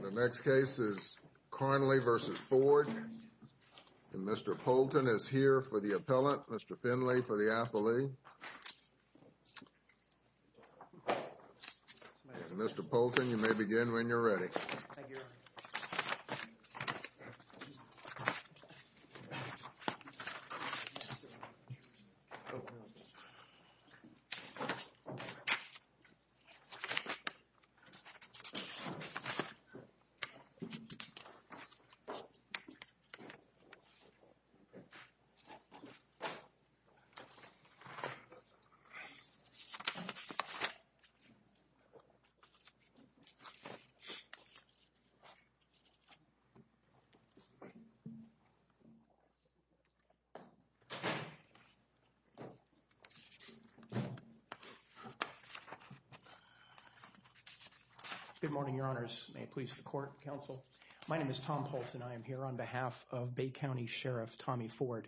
The next case is Carnley v. Ford. Mr. Poulton is here for the appellant. Mr. Finley for the appellee. Mr. Poulton, you may begin when you're ready. Mr. Finley, you may begin. Good morning, your honors. May it please the court, counsel. My name is Tom Poulton. I am here on behalf of Bay County Sheriff Tommy Ford.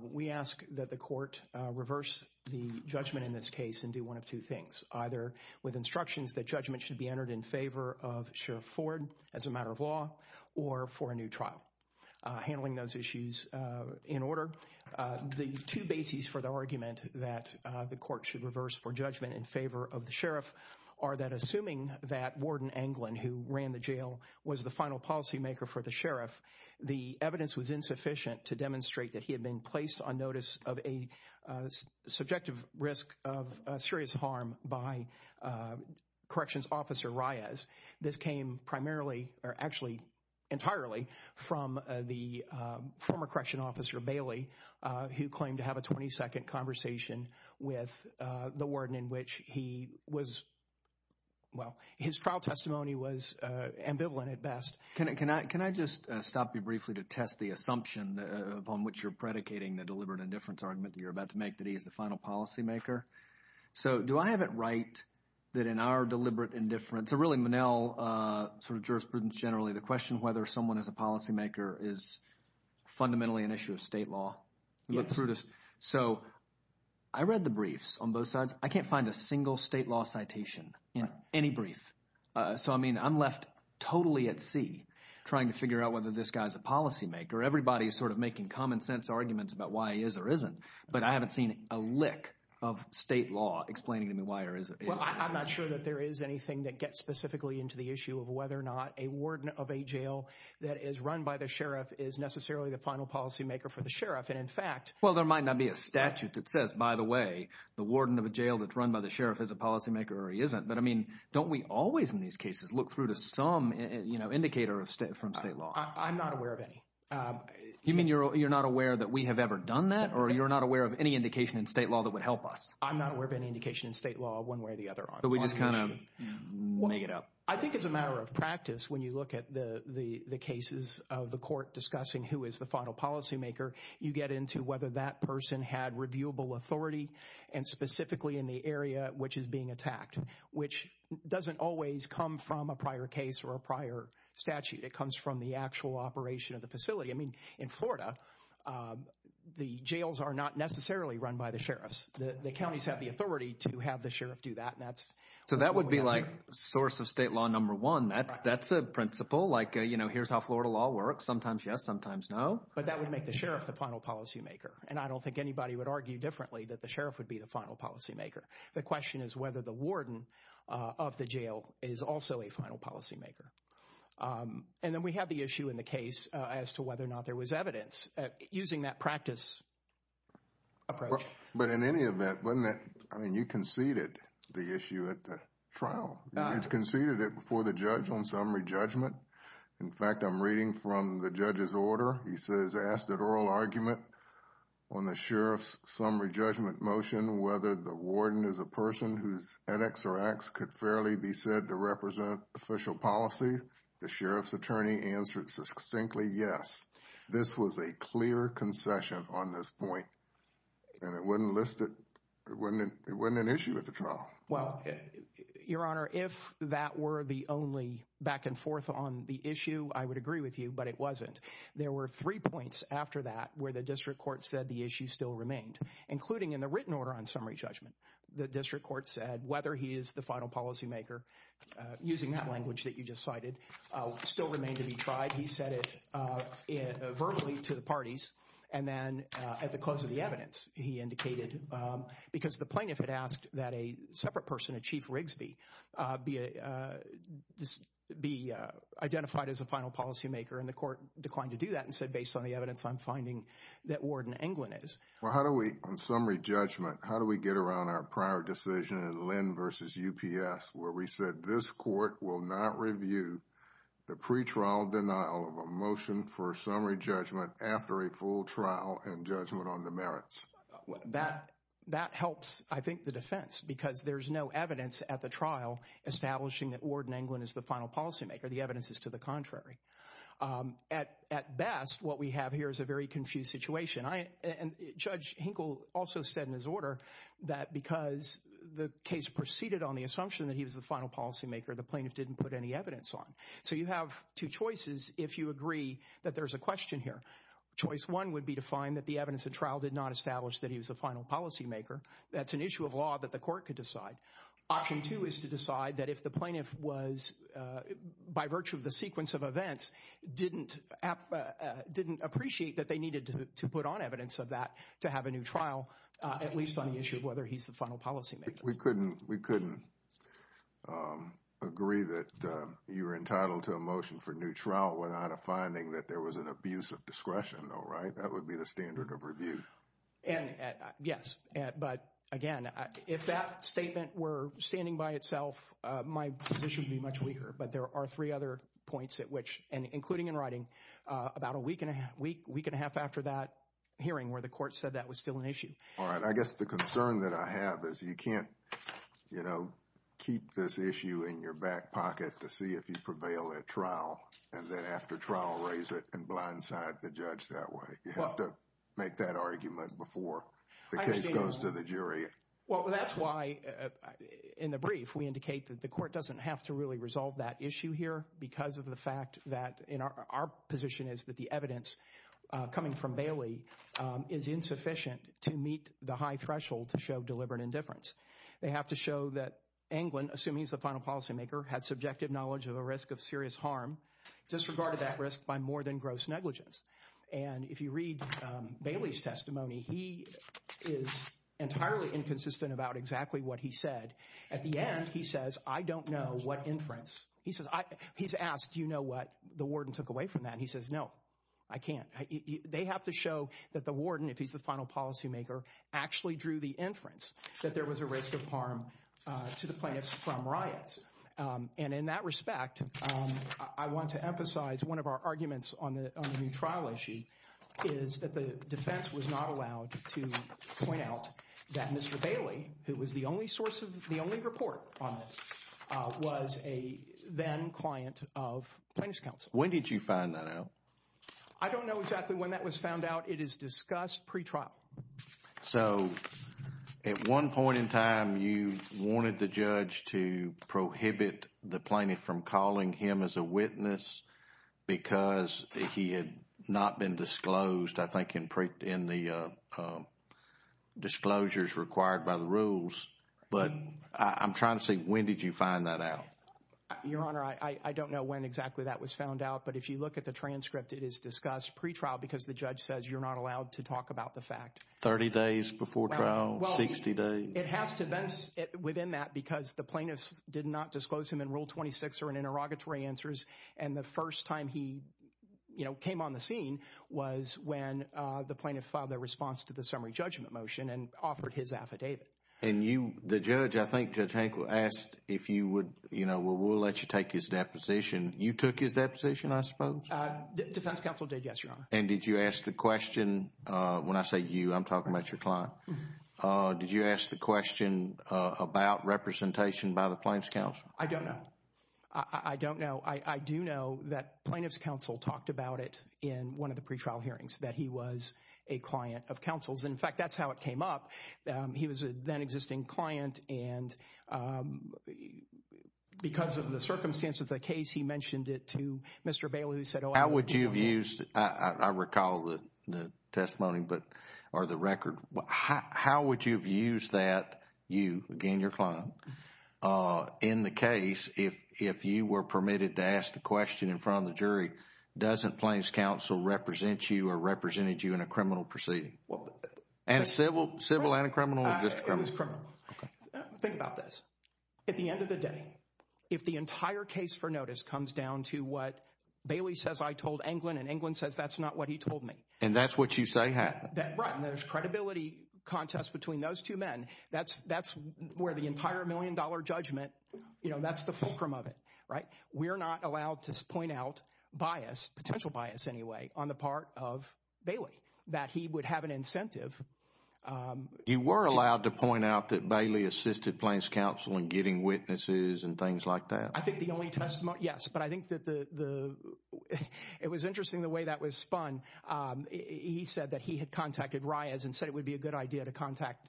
We ask that the court reverse the judgment in this case and do one of two things. Either with instructions that judgment should be entered in favor of Sheriff Ford as a matter of law or for a new trial. Handling those issues in order. The two bases for the argument that the court should reverse for judgment in favor of the sheriff are that assuming that Warden Anglin, who ran the jail, was the final policymaker for the sheriff, the evidence was insufficient to demonstrate that he had been placed on notice of a subjective risk of serious harm by Corrections Officer Reyes. This came primarily or actually entirely from the former Correction Officer Bailey, who claimed to have a 22nd conversation with the warden in which he was. Well, his trial testimony was ambivalent at best. Can I can I can I just stop you briefly to test the assumption upon which you're predicating the deliberate indifference argument you're about to make that he is the final policymaker. So do I have it right that in our deliberate indifference, or really Monell sort of jurisprudence generally, the question whether someone is a policymaker is fundamentally an issue of state law. Look through this. So I read the briefs on both sides. I can't find a single state law citation in any brief. So, I mean, I'm left totally at sea trying to figure out whether this guy's a policymaker. Everybody is sort of making common sense arguments about why he is or isn't. But I haven't seen a lick of state law explaining to me why there is. Well, I'm not sure that there is anything that gets specifically into the issue of whether or not a warden of a jail that is run by the sheriff is necessarily the final policymaker for the sheriff. And in fact, well, there might not be a statute that says, by the way, the warden of a jail that's run by the sheriff is a policymaker or he isn't. But, I mean, don't we always in these cases look through to some indicator of state from state law? I'm not aware of any. You mean you're not aware that we have ever done that or you're not aware of any indication in state law that would help us? I'm not aware of any indication in state law one way or the other. So we just kind of make it up. I think as a matter of practice, when you look at the cases of the court discussing who is the final policymaker, you get into whether that person had reviewable authority and specifically in the area which is being attacked, which doesn't always come from a prior case or a prior statute. It comes from the actual operation of the facility. I mean, in Florida, the jails are not necessarily run by the sheriffs. The counties have the authority to have the sheriff do that. So that would be like source of state law number one. That's a principle like, you know, here's how Florida law works. Sometimes yes, sometimes no. But that would make the sheriff the final policymaker. And I don't think anybody would argue differently that the sheriff would be the final policymaker. The question is whether the warden of the jail is also a final policymaker. And then we have the issue in the case as to whether or not there was evidence. Using that practice approach. But in any event, you conceded the issue at the trial. You conceded it before the judge on summary judgment. In fact, I'm reading from the judge's order. He says, asked at oral argument on the sheriff's summary judgment motion whether the warden is a person whose edX or X could fairly be said to represent official policy. The sheriff's attorney answered succinctly. Yes, this was a clear concession on this point. And it wasn't listed. It wasn't an issue at the trial. Well, your honor, if that were the only back and forth on the issue, I would agree with you. But it wasn't. There were three points after that where the district court said the issue still remained. Including in the written order on summary judgment. The district court said whether he is the final policymaker. Using that language that you just cited still remained to be tried. He said it verbally to the parties. And then at the close of the evidence, he indicated because the plaintiff had asked that a separate person, a chief Rigsby, be identified as a final policymaker. And the court declined to do that and said, based on the evidence, I'm finding that warden England is. Well, how do we, on summary judgment, how do we get around our prior decision in Lynn versus UPS where we said this court will not review the pre-trial denial of a motion for summary judgment after a full trial and judgment on the merits? That helps, I think, the defense because there's no evidence at the trial establishing that warden England is the final policymaker. The evidence is to the contrary. At best, what we have here is a very confused situation. And Judge Hinkle also said in his order that because the case proceeded on the assumption that he was the final policymaker, the plaintiff didn't put any evidence on. So you have two choices if you agree that there's a question here. Choice one would be to find that the evidence at trial did not establish that he was the final policymaker. That's an issue of law that the court could decide. Option two is to decide that if the plaintiff was, by virtue of the sequence of events, didn't appreciate that they needed to put on evidence of that to have a new trial, at least on the issue of whether he's the final policymaker. We couldn't agree that you were entitled to a motion for new trial without a finding that there was an abuse of discretion, though, right? That would be the standard of review. Yes, but again, if that statement were standing by itself, my position would be much weaker. But there are three other points at which, including in writing, about a week and a half after that hearing where the court said that was still an issue. All right. I guess the concern that I have is you can't keep this issue in your back pocket to see if you prevail at trial. And then after trial, raise it and blindside the judge that way. You have to make that argument before the case goes to the jury. Well, that's why in the brief we indicate that the court doesn't have to really resolve that issue here because of the fact that our position is that the evidence coming from Bailey is insufficient to meet the high threshold to show deliberate indifference. They have to show that Anglin, assuming he's the final policymaker, had subjective knowledge of a risk of serious harm, disregarded that risk by more than gross negligence. And if you read Bailey's testimony, he is entirely inconsistent about exactly what he said. At the end, he says, I don't know what inference. He says he's asked, you know what? The warden took away from that. He says, no, I can't. They have to show that the warden, if he's the final policymaker, actually drew the inference that there was a risk of harm to the plaintiffs from riots. And in that respect, I want to emphasize one of our arguments on the trial issue is that the defense was not allowed to point out that Mr. Bailey, who was the only source of the only report on this, was a then client of Plaintiff's counsel. When did you find that out? I don't know exactly when that was found out. It is discussed pretrial. So at one point in time, you wanted the judge to prohibit the plaintiff from calling him as a witness because he had not been disclosed, I think, in the disclosures required by the rules. But I'm trying to say, when did you find that out? Your Honor, I don't know when exactly that was found out. But if you look at the transcript, it is discussed pretrial because the judge says you're not allowed to talk about the fact. 30 days before trial, 60 days. It has to be within that because the plaintiffs did not disclose him in Rule 26 or in interrogatory answers. And the first time he came on the scene was when the plaintiff filed a response to the summary judgment motion and offered his affidavit. And you, the judge, I think Judge Hankel asked if you would, you know, we'll let you take his deposition. You took his deposition, I suppose? Defense counsel did, yes, Your Honor. And did you ask the question, when I say you, I'm talking about your client. Did you ask the question about representation by the Plaintiff's counsel? I don't know. I don't know. I do know that Plaintiff's counsel talked about it in one of the pretrial hearings, that he was a client of counsel's. In fact, that's how it came up. He was a then-existing client, and because of the circumstances of the case, he mentioned it to Mr. Bailey, who said, oh, I don't know. How would you have used, I recall the testimony, but, or the record. How would you have used that, you, again, your client, in the case if you were permitted to ask the question in front of the jury, doesn't Plaintiff's counsel represent you or represented you in a criminal proceeding? And civil and a criminal or just criminal? It was criminal. Think about this. At the end of the day, if the entire case for notice comes down to what Bailey says I told Englund, and Englund says that's not what he told me. And that's what you say happened. Right, and there's credibility contests between those two men. That's where the entire million-dollar judgment, you know, that's the fulcrum of it, right? We're not allowed to point out bias, potential bias anyway, on the part of Bailey, that he would have an incentive. You were allowed to point out that Bailey assisted Plaintiff's counsel in getting witnesses and things like that. I think the only testimony, yes, but I think that the, it was interesting the way that was spun. He said that he had contacted Reyes and said it would be a good idea to contact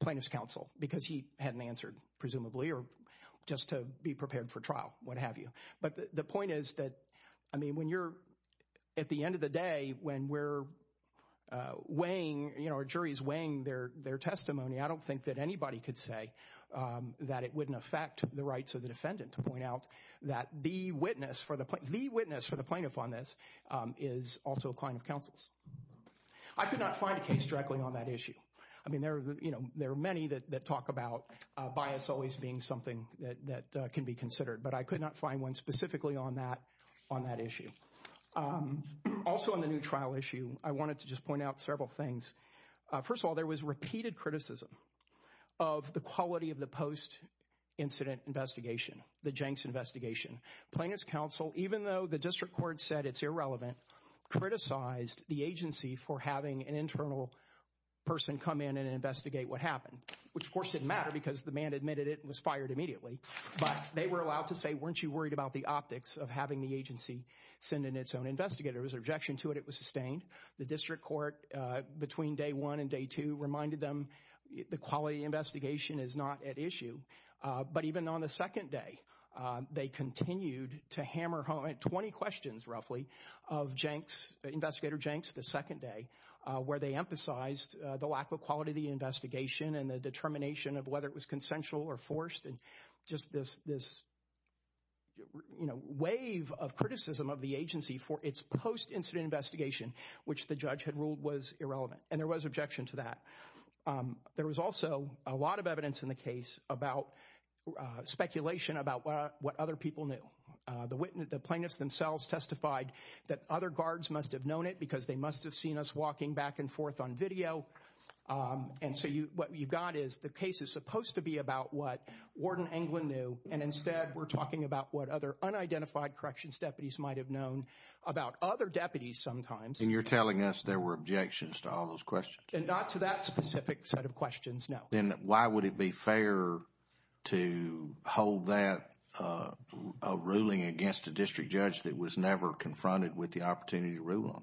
Plaintiff's counsel because he hadn't answered, presumably, or just to be prepared for trial, what have you. But the point is that, I mean, when you're, at the end of the day, when we're weighing, you know, our jury's weighing their testimony, I don't think that anybody could say that it wouldn't affect the rights of the defendant to point out that the witness for the, the witness for the plaintiff on this is also a client of counsel's. I could not find a case directly on that issue. I mean, there are, you know, there are many that talk about bias always being something that can be considered, but I could not find one specifically on that issue. Also, on the new trial issue, I wanted to just point out several things. First of all, there was repeated criticism of the quality of the post-incident investigation, the Jenks investigation. Plaintiff's counsel, even though the district court said it's irrelevant, criticized the agency for having an internal person come in and investigate what happened, which, of course, didn't matter because the man admitted it and was fired immediately. But they were allowed to say, weren't you worried about the optics of having the agency send in its own investigator? There was an objection to it. It was sustained. The district court, between day one and day two, reminded them the quality of the investigation is not at issue. But even on the second day, they continued to hammer home 20 questions, roughly, of Jenks, investigator Jenks, the second day, where they emphasized the lack of quality of the investigation and the determination of whether it was consensual or forced, and just this, you know, wave of criticism of the agency for its post-incident investigation, which the judge had ruled was irrelevant. And there was objection to that. There was also a lot of evidence in the case about speculation about what other people knew. The plaintiffs themselves testified that other guards must have known it because they must have seen us walking back and forth on video. And so what you've got is the case is supposed to be about what Warden England knew, and instead we're talking about what other unidentified corrections deputies might have known about other deputies sometimes. And you're telling us there were objections to all those questions? And not to that specific set of questions, no. Then why would it be fair to hold that ruling against a district judge that was never confronted with the opportunity to rule on?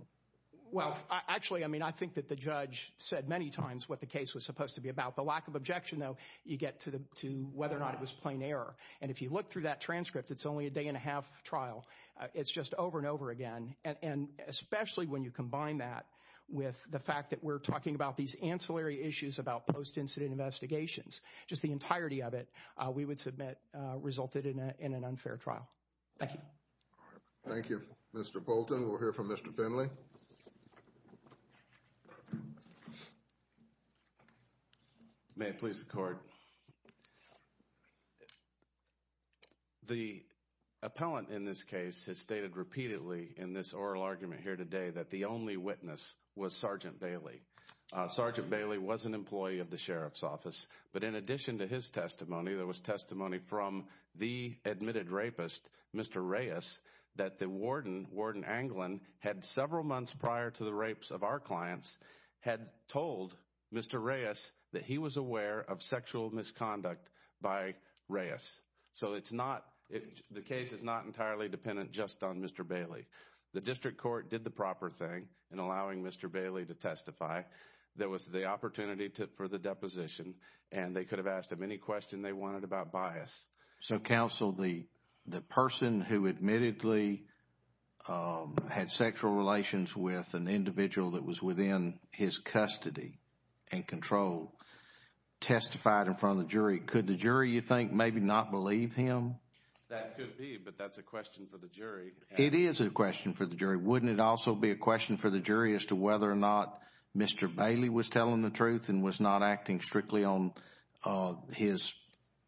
Well, actually, I mean, I think that the judge said many times what the case was supposed to be about. The lack of objection, though, you get to whether or not it was plain error. And if you look through that transcript, it's only a day-and-a-half trial. It's just over and over again. And especially when you combine that with the fact that we're talking about these ancillary issues about post-incident investigations, just the entirety of it, we would submit resulted in an unfair trial. Thank you. Thank you. Mr. Bolton, we'll hear from Mr. Finley. May it please the Court. The appellant in this case has stated repeatedly in this oral argument here today that the only witness was Sergeant Bailey. Sergeant Bailey was an employee of the Sheriff's Office. But in addition to his testimony, there was testimony from the admitted rapist, Mr. Reyes, that the warden, Warden Anglin, had several months prior to the rapes of our clients, had told Mr. Reyes that he was aware of sexual misconduct by Reyes. So the case is not entirely dependent just on Mr. Bailey. The district court did the proper thing in allowing Mr. Bailey to testify. There was the opportunity for the deposition, and they could have asked him any question they wanted about bias. So, counsel, the person who admittedly had sexual relations with an individual that was within his custody and control testified in front of the jury. Could the jury, you think, maybe not believe him? That could be, but that's a question for the jury. It is a question for the jury. Wouldn't it also be a question for the jury as to whether or not Mr. Bailey was telling the truth and was not acting strictly on his,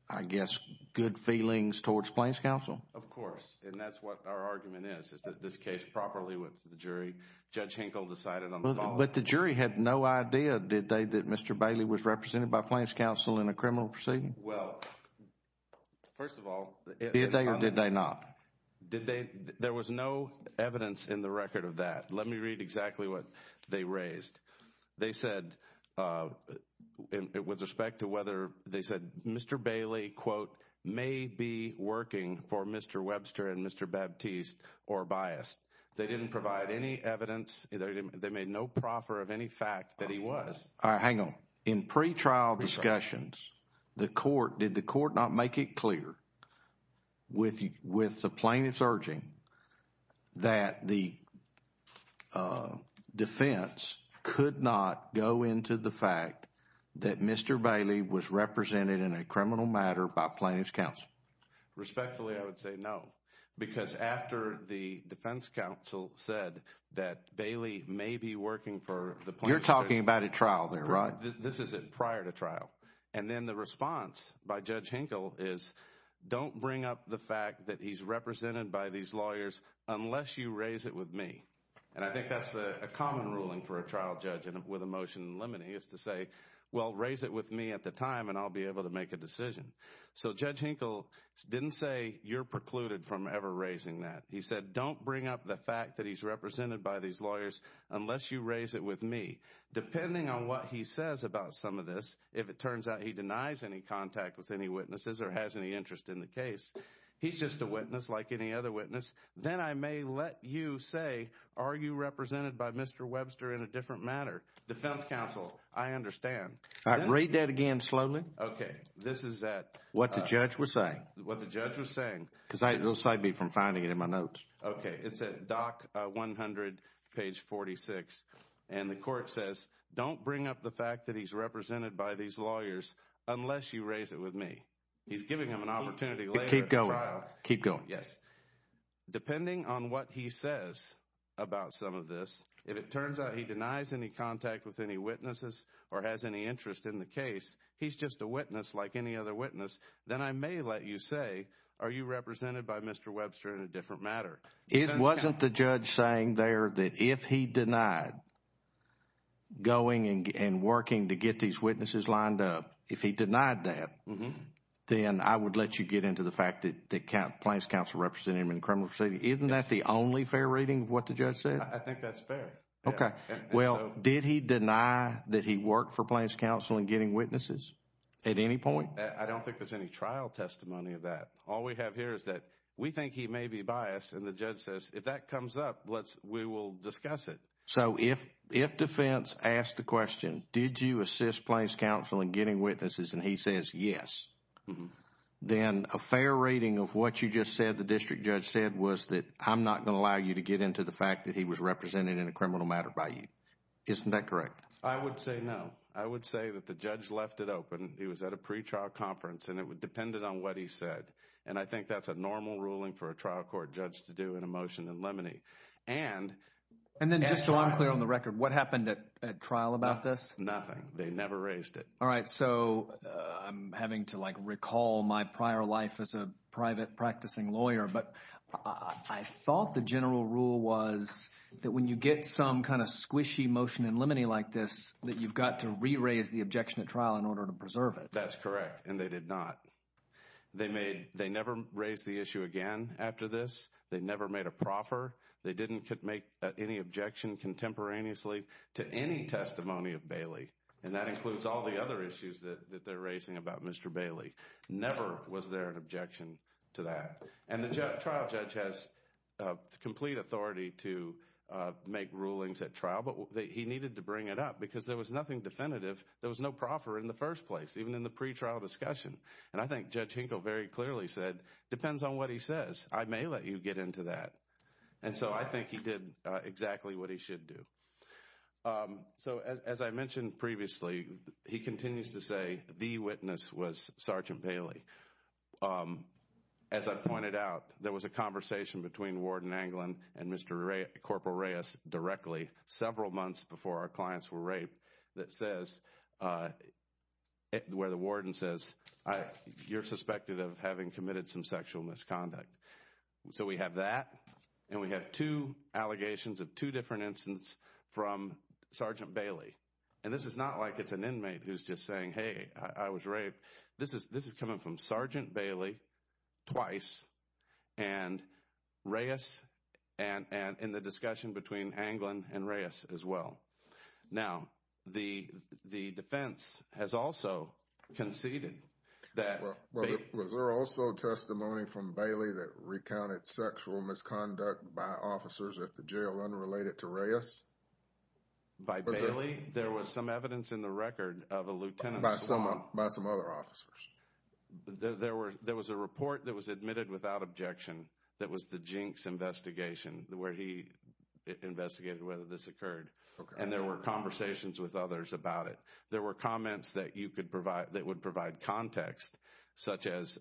I guess, good feelings towards Plains Counsel? Of course. And that's what our argument is, is that this case properly with the jury, Judge Hinkle decided on the following. But the jury had no idea, did they, that Mr. Bailey was represented by Plains Counsel in a criminal proceeding? Well, first of all, Did they or did they not? There was no evidence in the record of that. Let me read exactly what they raised. They said, with respect to whether, they said Mr. Bailey, quote, may be working for Mr. Webster and Mr. Baptiste or biased. They didn't provide any evidence. They made no proffer of any fact that he was. All right, hang on. In pre-trial discussions, the court, did the court not make it clear with the plaintiffs urging that the defense could not go into the fact that Mr. Bailey was represented in a criminal matter by Plains Counsel? Respectfully, I would say no. Because after the defense counsel said that Bailey may be working for the plaintiffs. You're talking about a trial there, right? This is prior to trial. And then the response by Judge Hinkle is, don't bring up the fact that he's represented by these lawyers unless you raise it with me. And I think that's a common ruling for a trial judge with a motion in limine. He has to say, well, raise it with me at the time and I'll be able to make a decision. So Judge Hinkle didn't say you're precluded from ever raising that. He said don't bring up the fact that he's represented by these lawyers unless you raise it with me. Depending on what he says about some of this, if it turns out he denies any contact with any witnesses or has any interest in the case, he's just a witness like any other witness. Then I may let you say, are you represented by Mr. Webster in a different matter? Defense counsel, I understand. All right, read that again slowly. Okay. This is that. What the judge was saying. What the judge was saying. Because I aside me from finding it in my notes. Okay. It's a doc. One hundred page forty six. And the court says don't bring up the fact that he's represented by these lawyers unless you raise it with me. He's giving him an opportunity. Keep going. Keep going. Yes. Depending on what he says about some of this, if it turns out he denies any contact with any witnesses or has any interest in the case, he's just a witness like any other witness. Then I may let you say, are you represented by Mr. Webster in a different matter? It wasn't the judge saying there that if he denied going and working to get these witnesses lined up, if he denied that, then I would let you get into the fact that Plaintiff's counsel represented him in the criminal proceeding. Isn't that the only fair reading of what the judge said? I think that's fair. Okay. Well, did he deny that he worked for Plaintiff's counsel in getting witnesses at any point? I don't think there's any trial testimony of that. All we have here is that we think he may be biased and the judge says if that comes up, we will discuss it. So if defense asked the question, did you assist Plaintiff's counsel in getting witnesses and he says yes, then a fair reading of what you just said the district judge said was that I'm not going to allow you to get into the fact that he was represented in a criminal matter by you. Isn't that correct? I would say no. I would say that the judge left it open. He was at a pretrial conference, and it depended on what he said. And I think that's a normal ruling for a trial court judge to do in a motion in limine. And then just so I'm clear on the record, what happened at trial about this? Nothing. They never raised it. All right. So I'm having to, like, recall my prior life as a private practicing lawyer. But I thought the general rule was that when you get some kind of squishy motion in limine like this, that you've got to re-raise the objection at trial in order to preserve it. That's correct, and they did not. They never raised the issue again after this. They never made a proffer. They didn't make any objection contemporaneously to any testimony of Bailey. And that includes all the other issues that they're raising about Mr. Bailey. Never was there an objection to that. And the trial judge has complete authority to make rulings at trial, but he needed to bring it up because there was nothing definitive. There was no proffer in the first place, even in the pretrial discussion. And I think Judge Hinkle very clearly said, depends on what he says, I may let you get into that. And so I think he did exactly what he should do. So as I mentioned previously, he continues to say the witness was Sergeant Bailey. As I pointed out, there was a conversation between Warden Anglin and Mr. Corporal Reyes directly several months before our clients were raped that says, where the warden says, you're suspected of having committed some sexual misconduct. So we have that, and we have two allegations of two different instances from Sergeant Bailey. And this is not like it's an inmate who's just saying, hey, I was raped. This is coming from Sergeant Bailey twice and Reyes and in the discussion between Anglin and Reyes as well. Now, the defense has also conceded that. Was there also testimony from Bailey that recounted sexual misconduct by officers at the jail unrelated to Reyes? By Bailey? There was some evidence in the record of a lieutenant. By some other officers. There was a report that was admitted without objection that was the Jinx investigation where he investigated whether this occurred. And there were conversations with others about it. There were comments that you could provide, that would provide context, such as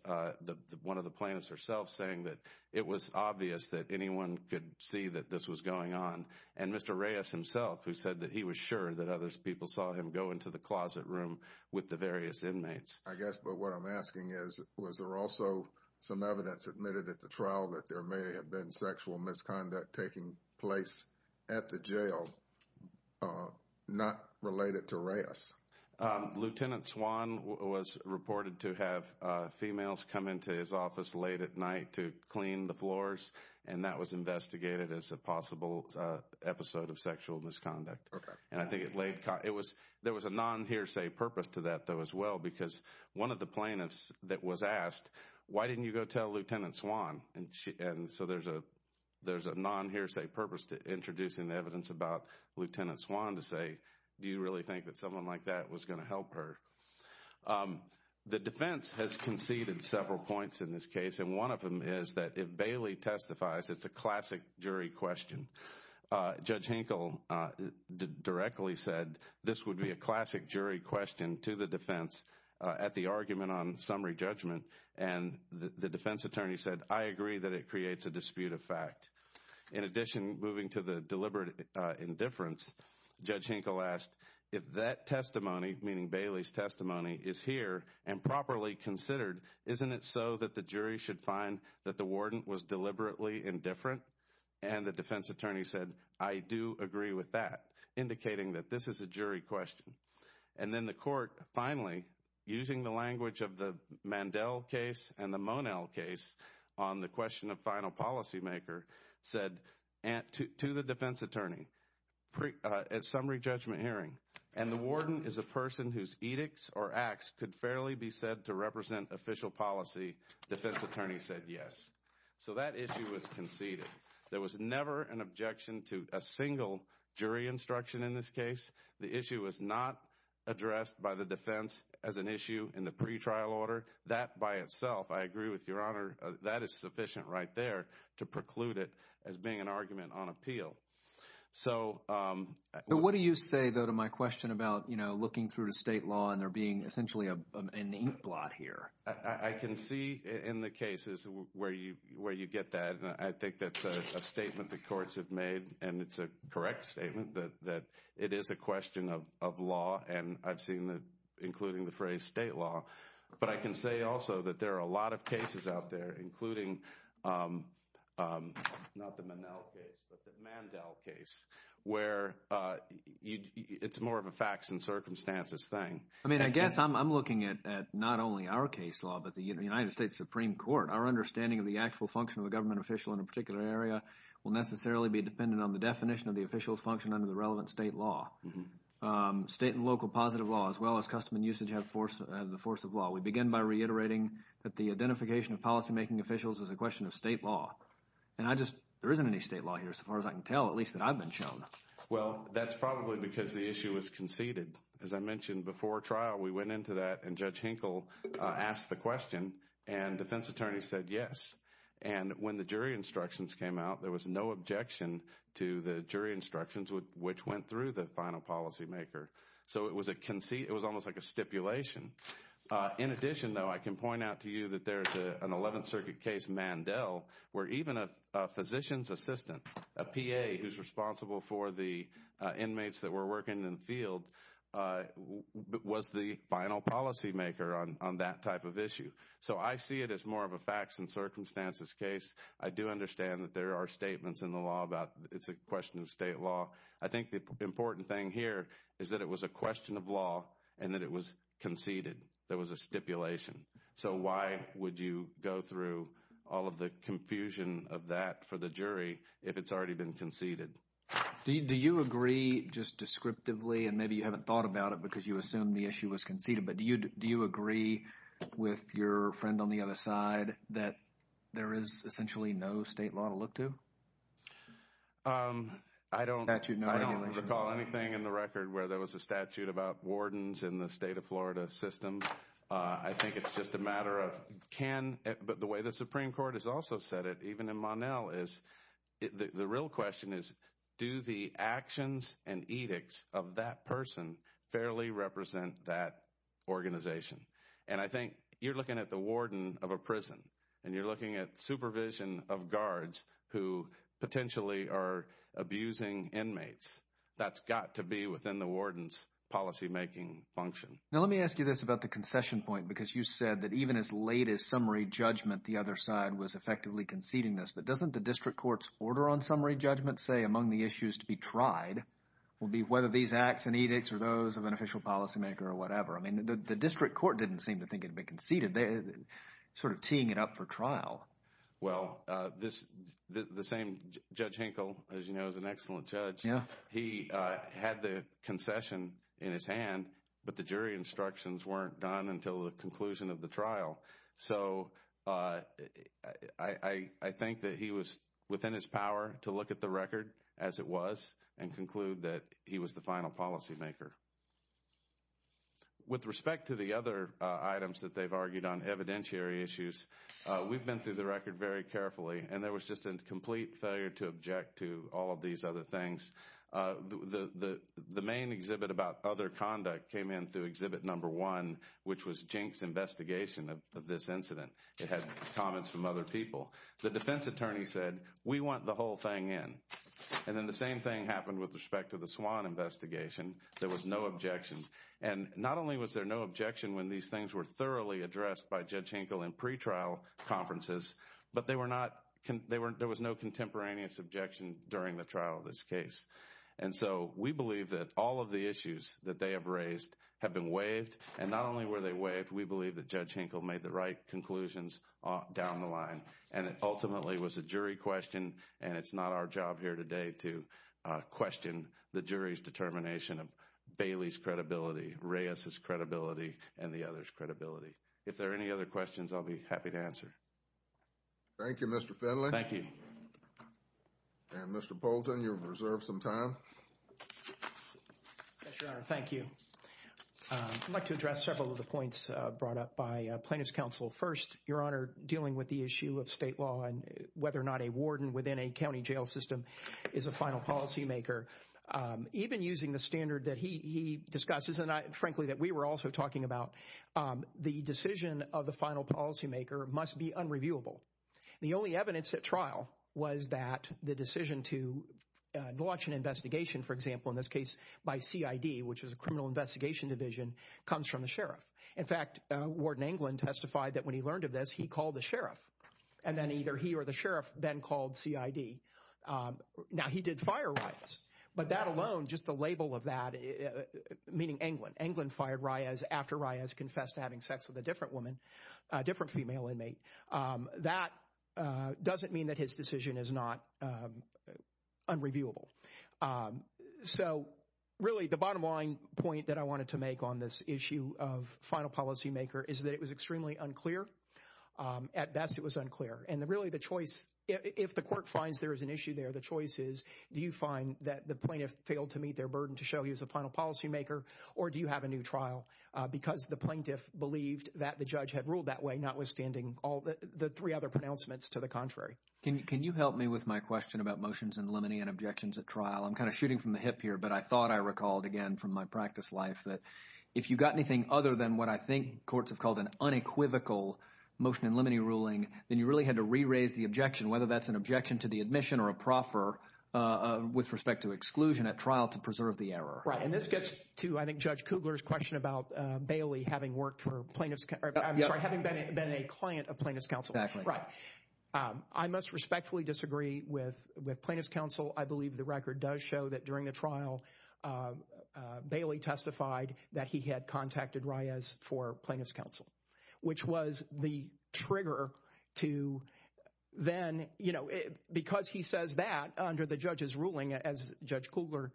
one of the plaintiffs herself saying that it was obvious that anyone could see that this was going on. And Mr. Reyes himself, who said that he was sure that other people saw him go into the closet room with the various inmates. I guess. But what I'm asking is, was there also some evidence admitted at the trial that there may have been sexual misconduct taking place at the jail not related to Reyes? Lieutenant Swan was reported to have females come into his office late at night to clean the floors. And that was investigated as a possible episode of sexual misconduct. And I think it laid it was there was a non hearsay purpose to that, though, as well, because one of the plaintiffs that was asked, why didn't you go tell Lieutenant Swan? And so there's a there's a non hearsay purpose to introducing the evidence about Lieutenant Swan to say, do you really think that someone like that was going to help her? The defense has conceded several points in this case, and one of them is that if Bailey testifies, it's a classic jury question. Judge Hinkle directly said this would be a classic jury question to the defense at the argument on summary judgment. And the defense attorney said, I agree that it creates a dispute of fact. In addition, moving to the deliberate indifference, Judge Hinkle asked if that testimony, meaning Bailey's testimony, is here and properly considered. Isn't it so that the jury should find that the warden was deliberately indifferent? And the defense attorney said, I do agree with that, indicating that this is a jury question. And then the court finally, using the language of the Mandel case and the Monell case on the question of final policymaker, said to the defense attorney at summary judgment hearing. And the warden is a person whose edicts or acts could fairly be said to represent official policy. Defense attorney said yes. So that issue was conceded. There was never an objection to a single jury instruction in this case. The issue was not addressed by the defense as an issue in the pretrial order. That by itself, I agree with Your Honor, that is sufficient right there to preclude it as being an argument on appeal. So what do you say, though, to my question about looking through the state law and there being essentially an inkblot here? I can see in the cases where you get that. I think that's a statement the courts have made, and it's a correct statement that it is a question of law. And I've seen that, including the phrase state law. But I can say also that there are a lot of cases out there, including not the Monell case, but the Mandel case, where it's more of a facts and circumstances thing. I mean, I guess I'm looking at not only our case law, but the United States Supreme Court. Our understanding of the actual function of a government official in a particular area will necessarily be dependent on the definition of the official's function under the relevant state law. State and local positive law, as well as custom and usage, have the force of law. We begin by reiterating that the identification of policymaking officials is a question of state law. And I just – there isn't any state law here, so far as I can tell, at least that I've been shown. Well, that's probably because the issue was conceded. As I mentioned before trial, we went into that, and Judge Hinkle asked the question, and defense attorneys said yes. And when the jury instructions came out, there was no objection to the jury instructions, which went through the final policymaker. So it was a – it was almost like a stipulation. In addition, though, I can point out to you that there's an 11th Circuit case, Mandel, where even a physician's assistant, a PA who's responsible for the inmates that were working in the field, was the final policymaker on that type of issue. So I see it as more of a facts and circumstances case. I do understand that there are statements in the law about it's a question of state law. I think the important thing here is that it was a question of law and that it was conceded. There was a stipulation. So why would you go through all of the confusion of that for the jury if it's already been conceded? Do you agree just descriptively, and maybe you haven't thought about it because you assume the issue was conceded, but do you agree with your friend on the other side that there is essentially no state law to look to? I don't recall anything in the record where there was a statute about wardens in the state of Florida system. I think it's just a matter of can – but the way the Supreme Court has also said it, even in Mandel, is the real question is do the actions and edicts of that person fairly represent that organization? And I think you're looking at the warden of a prison, and you're looking at supervision of guards who potentially are abusing inmates. That's got to be within the warden's policymaking function. Now let me ask you this about the concession point because you said that even as late as summary judgment, the other side was effectively conceding this. But doesn't the district court's order on summary judgment say among the issues to be tried will be whether these acts and edicts are those of an official policymaker or whatever? I mean the district court didn't seem to think it would be conceded. They're sort of teeing it up for trial. Well, this – the same Judge Hinkle, as you know, is an excellent judge. He had the concession in his hand, but the jury instructions weren't done until the conclusion of the trial. So I think that he was within his power to look at the record as it was and conclude that he was the final policymaker. With respect to the other items that they've argued on, evidentiary issues, we've been through the record very carefully, and there was just a complete failure to object to all of these other things. The main exhibit about other conduct came in through exhibit number one, which was Jink's investigation of this incident. It had comments from other people. The defense attorney said, we want the whole thing in. And then the same thing happened with respect to the Swan investigation. There was no objection. And not only was there no objection when these things were thoroughly addressed by Judge Hinkle in pretrial conferences, but they were not – there was no contemporaneous objection during the trial of this case. And so we believe that all of the issues that they have raised have been waived, and not only were they waived, we believe that Judge Hinkle made the right conclusions down the line. And it ultimately was a jury question, and it's not our job here today to question the jury's determination of Bailey's credibility, Reyes's credibility, and the other's credibility. If there are any other questions, I'll be happy to answer. Thank you, Mr. Finley. Thank you. And Mr. Bolton, you have reserved some time. Yes, Your Honor, thank you. I'd like to address several of the points brought up by plaintiff's counsel. First, Your Honor, dealing with the issue of state law and whether or not a warden within a county jail system is a final policymaker, even using the standard that he discussed, frankly, that we were also talking about, the decision of the final policymaker must be unreviewable. The only evidence at trial was that the decision to launch an investigation, for example, in this case by CID, which is a criminal investigation division, comes from the sheriff. In fact, Warden Englund testified that when he learned of this, he called the sheriff, and then either he or the sheriff then called CID. Now, he did fire Reyes, but that alone, just the label of that, meaning Englund, Englund fired Reyes after Reyes confessed to having sex with a different woman, a different female inmate. That doesn't mean that his decision is not unreviewable. So, really, the bottom line point that I wanted to make on this issue of final policymaker is that it was extremely unclear. At best, it was unclear, and really the choice, if the court finds there is an issue there, the choice is, do you find that the plaintiff failed to meet their burden to show he was a final policymaker, or do you have a new trial? Because the plaintiff believed that the judge had ruled that way, notwithstanding the three other pronouncements to the contrary. Can you help me with my question about motions in limine and objections at trial? I'm kind of shooting from the hip here, but I thought I recalled, again, from my practice life, that if you got anything other than what I think courts have called an unequivocal motion in limine ruling, then you really had to re-raise the objection, whether that's an objection to the admission or a proffer with respect to exclusion at trial to preserve the error. Right, and this gets to, I think, Judge Kugler's question about Bailey having worked for plaintiff's, I'm sorry, having been a client of plaintiff's counsel. I must respectfully disagree with plaintiff's counsel. I believe the record does show that during the trial, Bailey testified that he had contacted Reyes for plaintiff's counsel, which was the trigger to then, because he says that under the judge's ruling, as Judge Kugler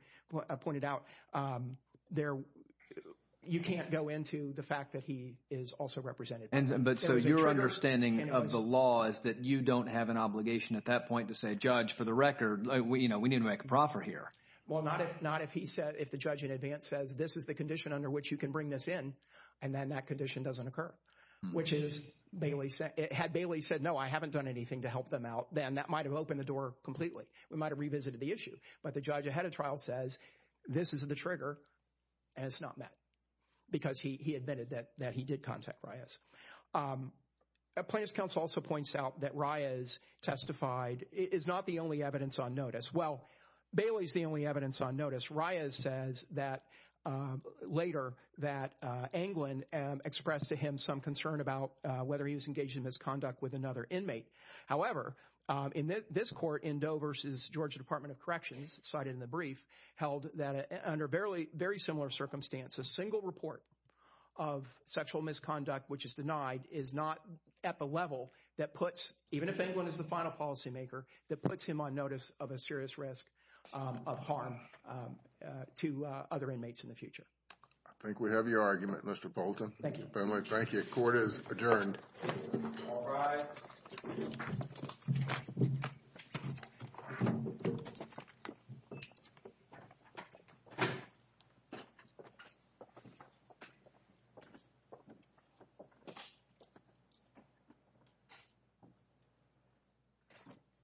pointed out, you can't go into the fact that he is also represented. But so your understanding of the law is that you don't have an obligation at that point to say, Judge, for the record, we need to make a proffer here. Well, not if the judge in advance says, this is the condition under which you can bring this in, and then that condition doesn't occur, which is, had Bailey said, no, I haven't done anything to help them out, then that might have opened the door completely. We might have revisited the issue. But the judge ahead of trial says, this is the trigger, and it's not met, because he admitted that he did contact Reyes. Plaintiff's counsel also points out that Reyes testified is not the only evidence on notice. Well, Bailey's the only evidence on notice. Reyes says that later that Anglin expressed to him some concern about whether he was engaged in misconduct with another inmate. However, in this court, in Doe v. Georgia Department of Corrections, cited in the brief, held that under very similar circumstances, a single report of sexual misconduct which is denied is not at the level that puts, even if Anglin is the final policymaker, that puts him on notice of a serious risk of harm to other inmates in the future. I think we have your argument, Mr. Bolton. Thank you. Thank you. Court is adjourned. All rise.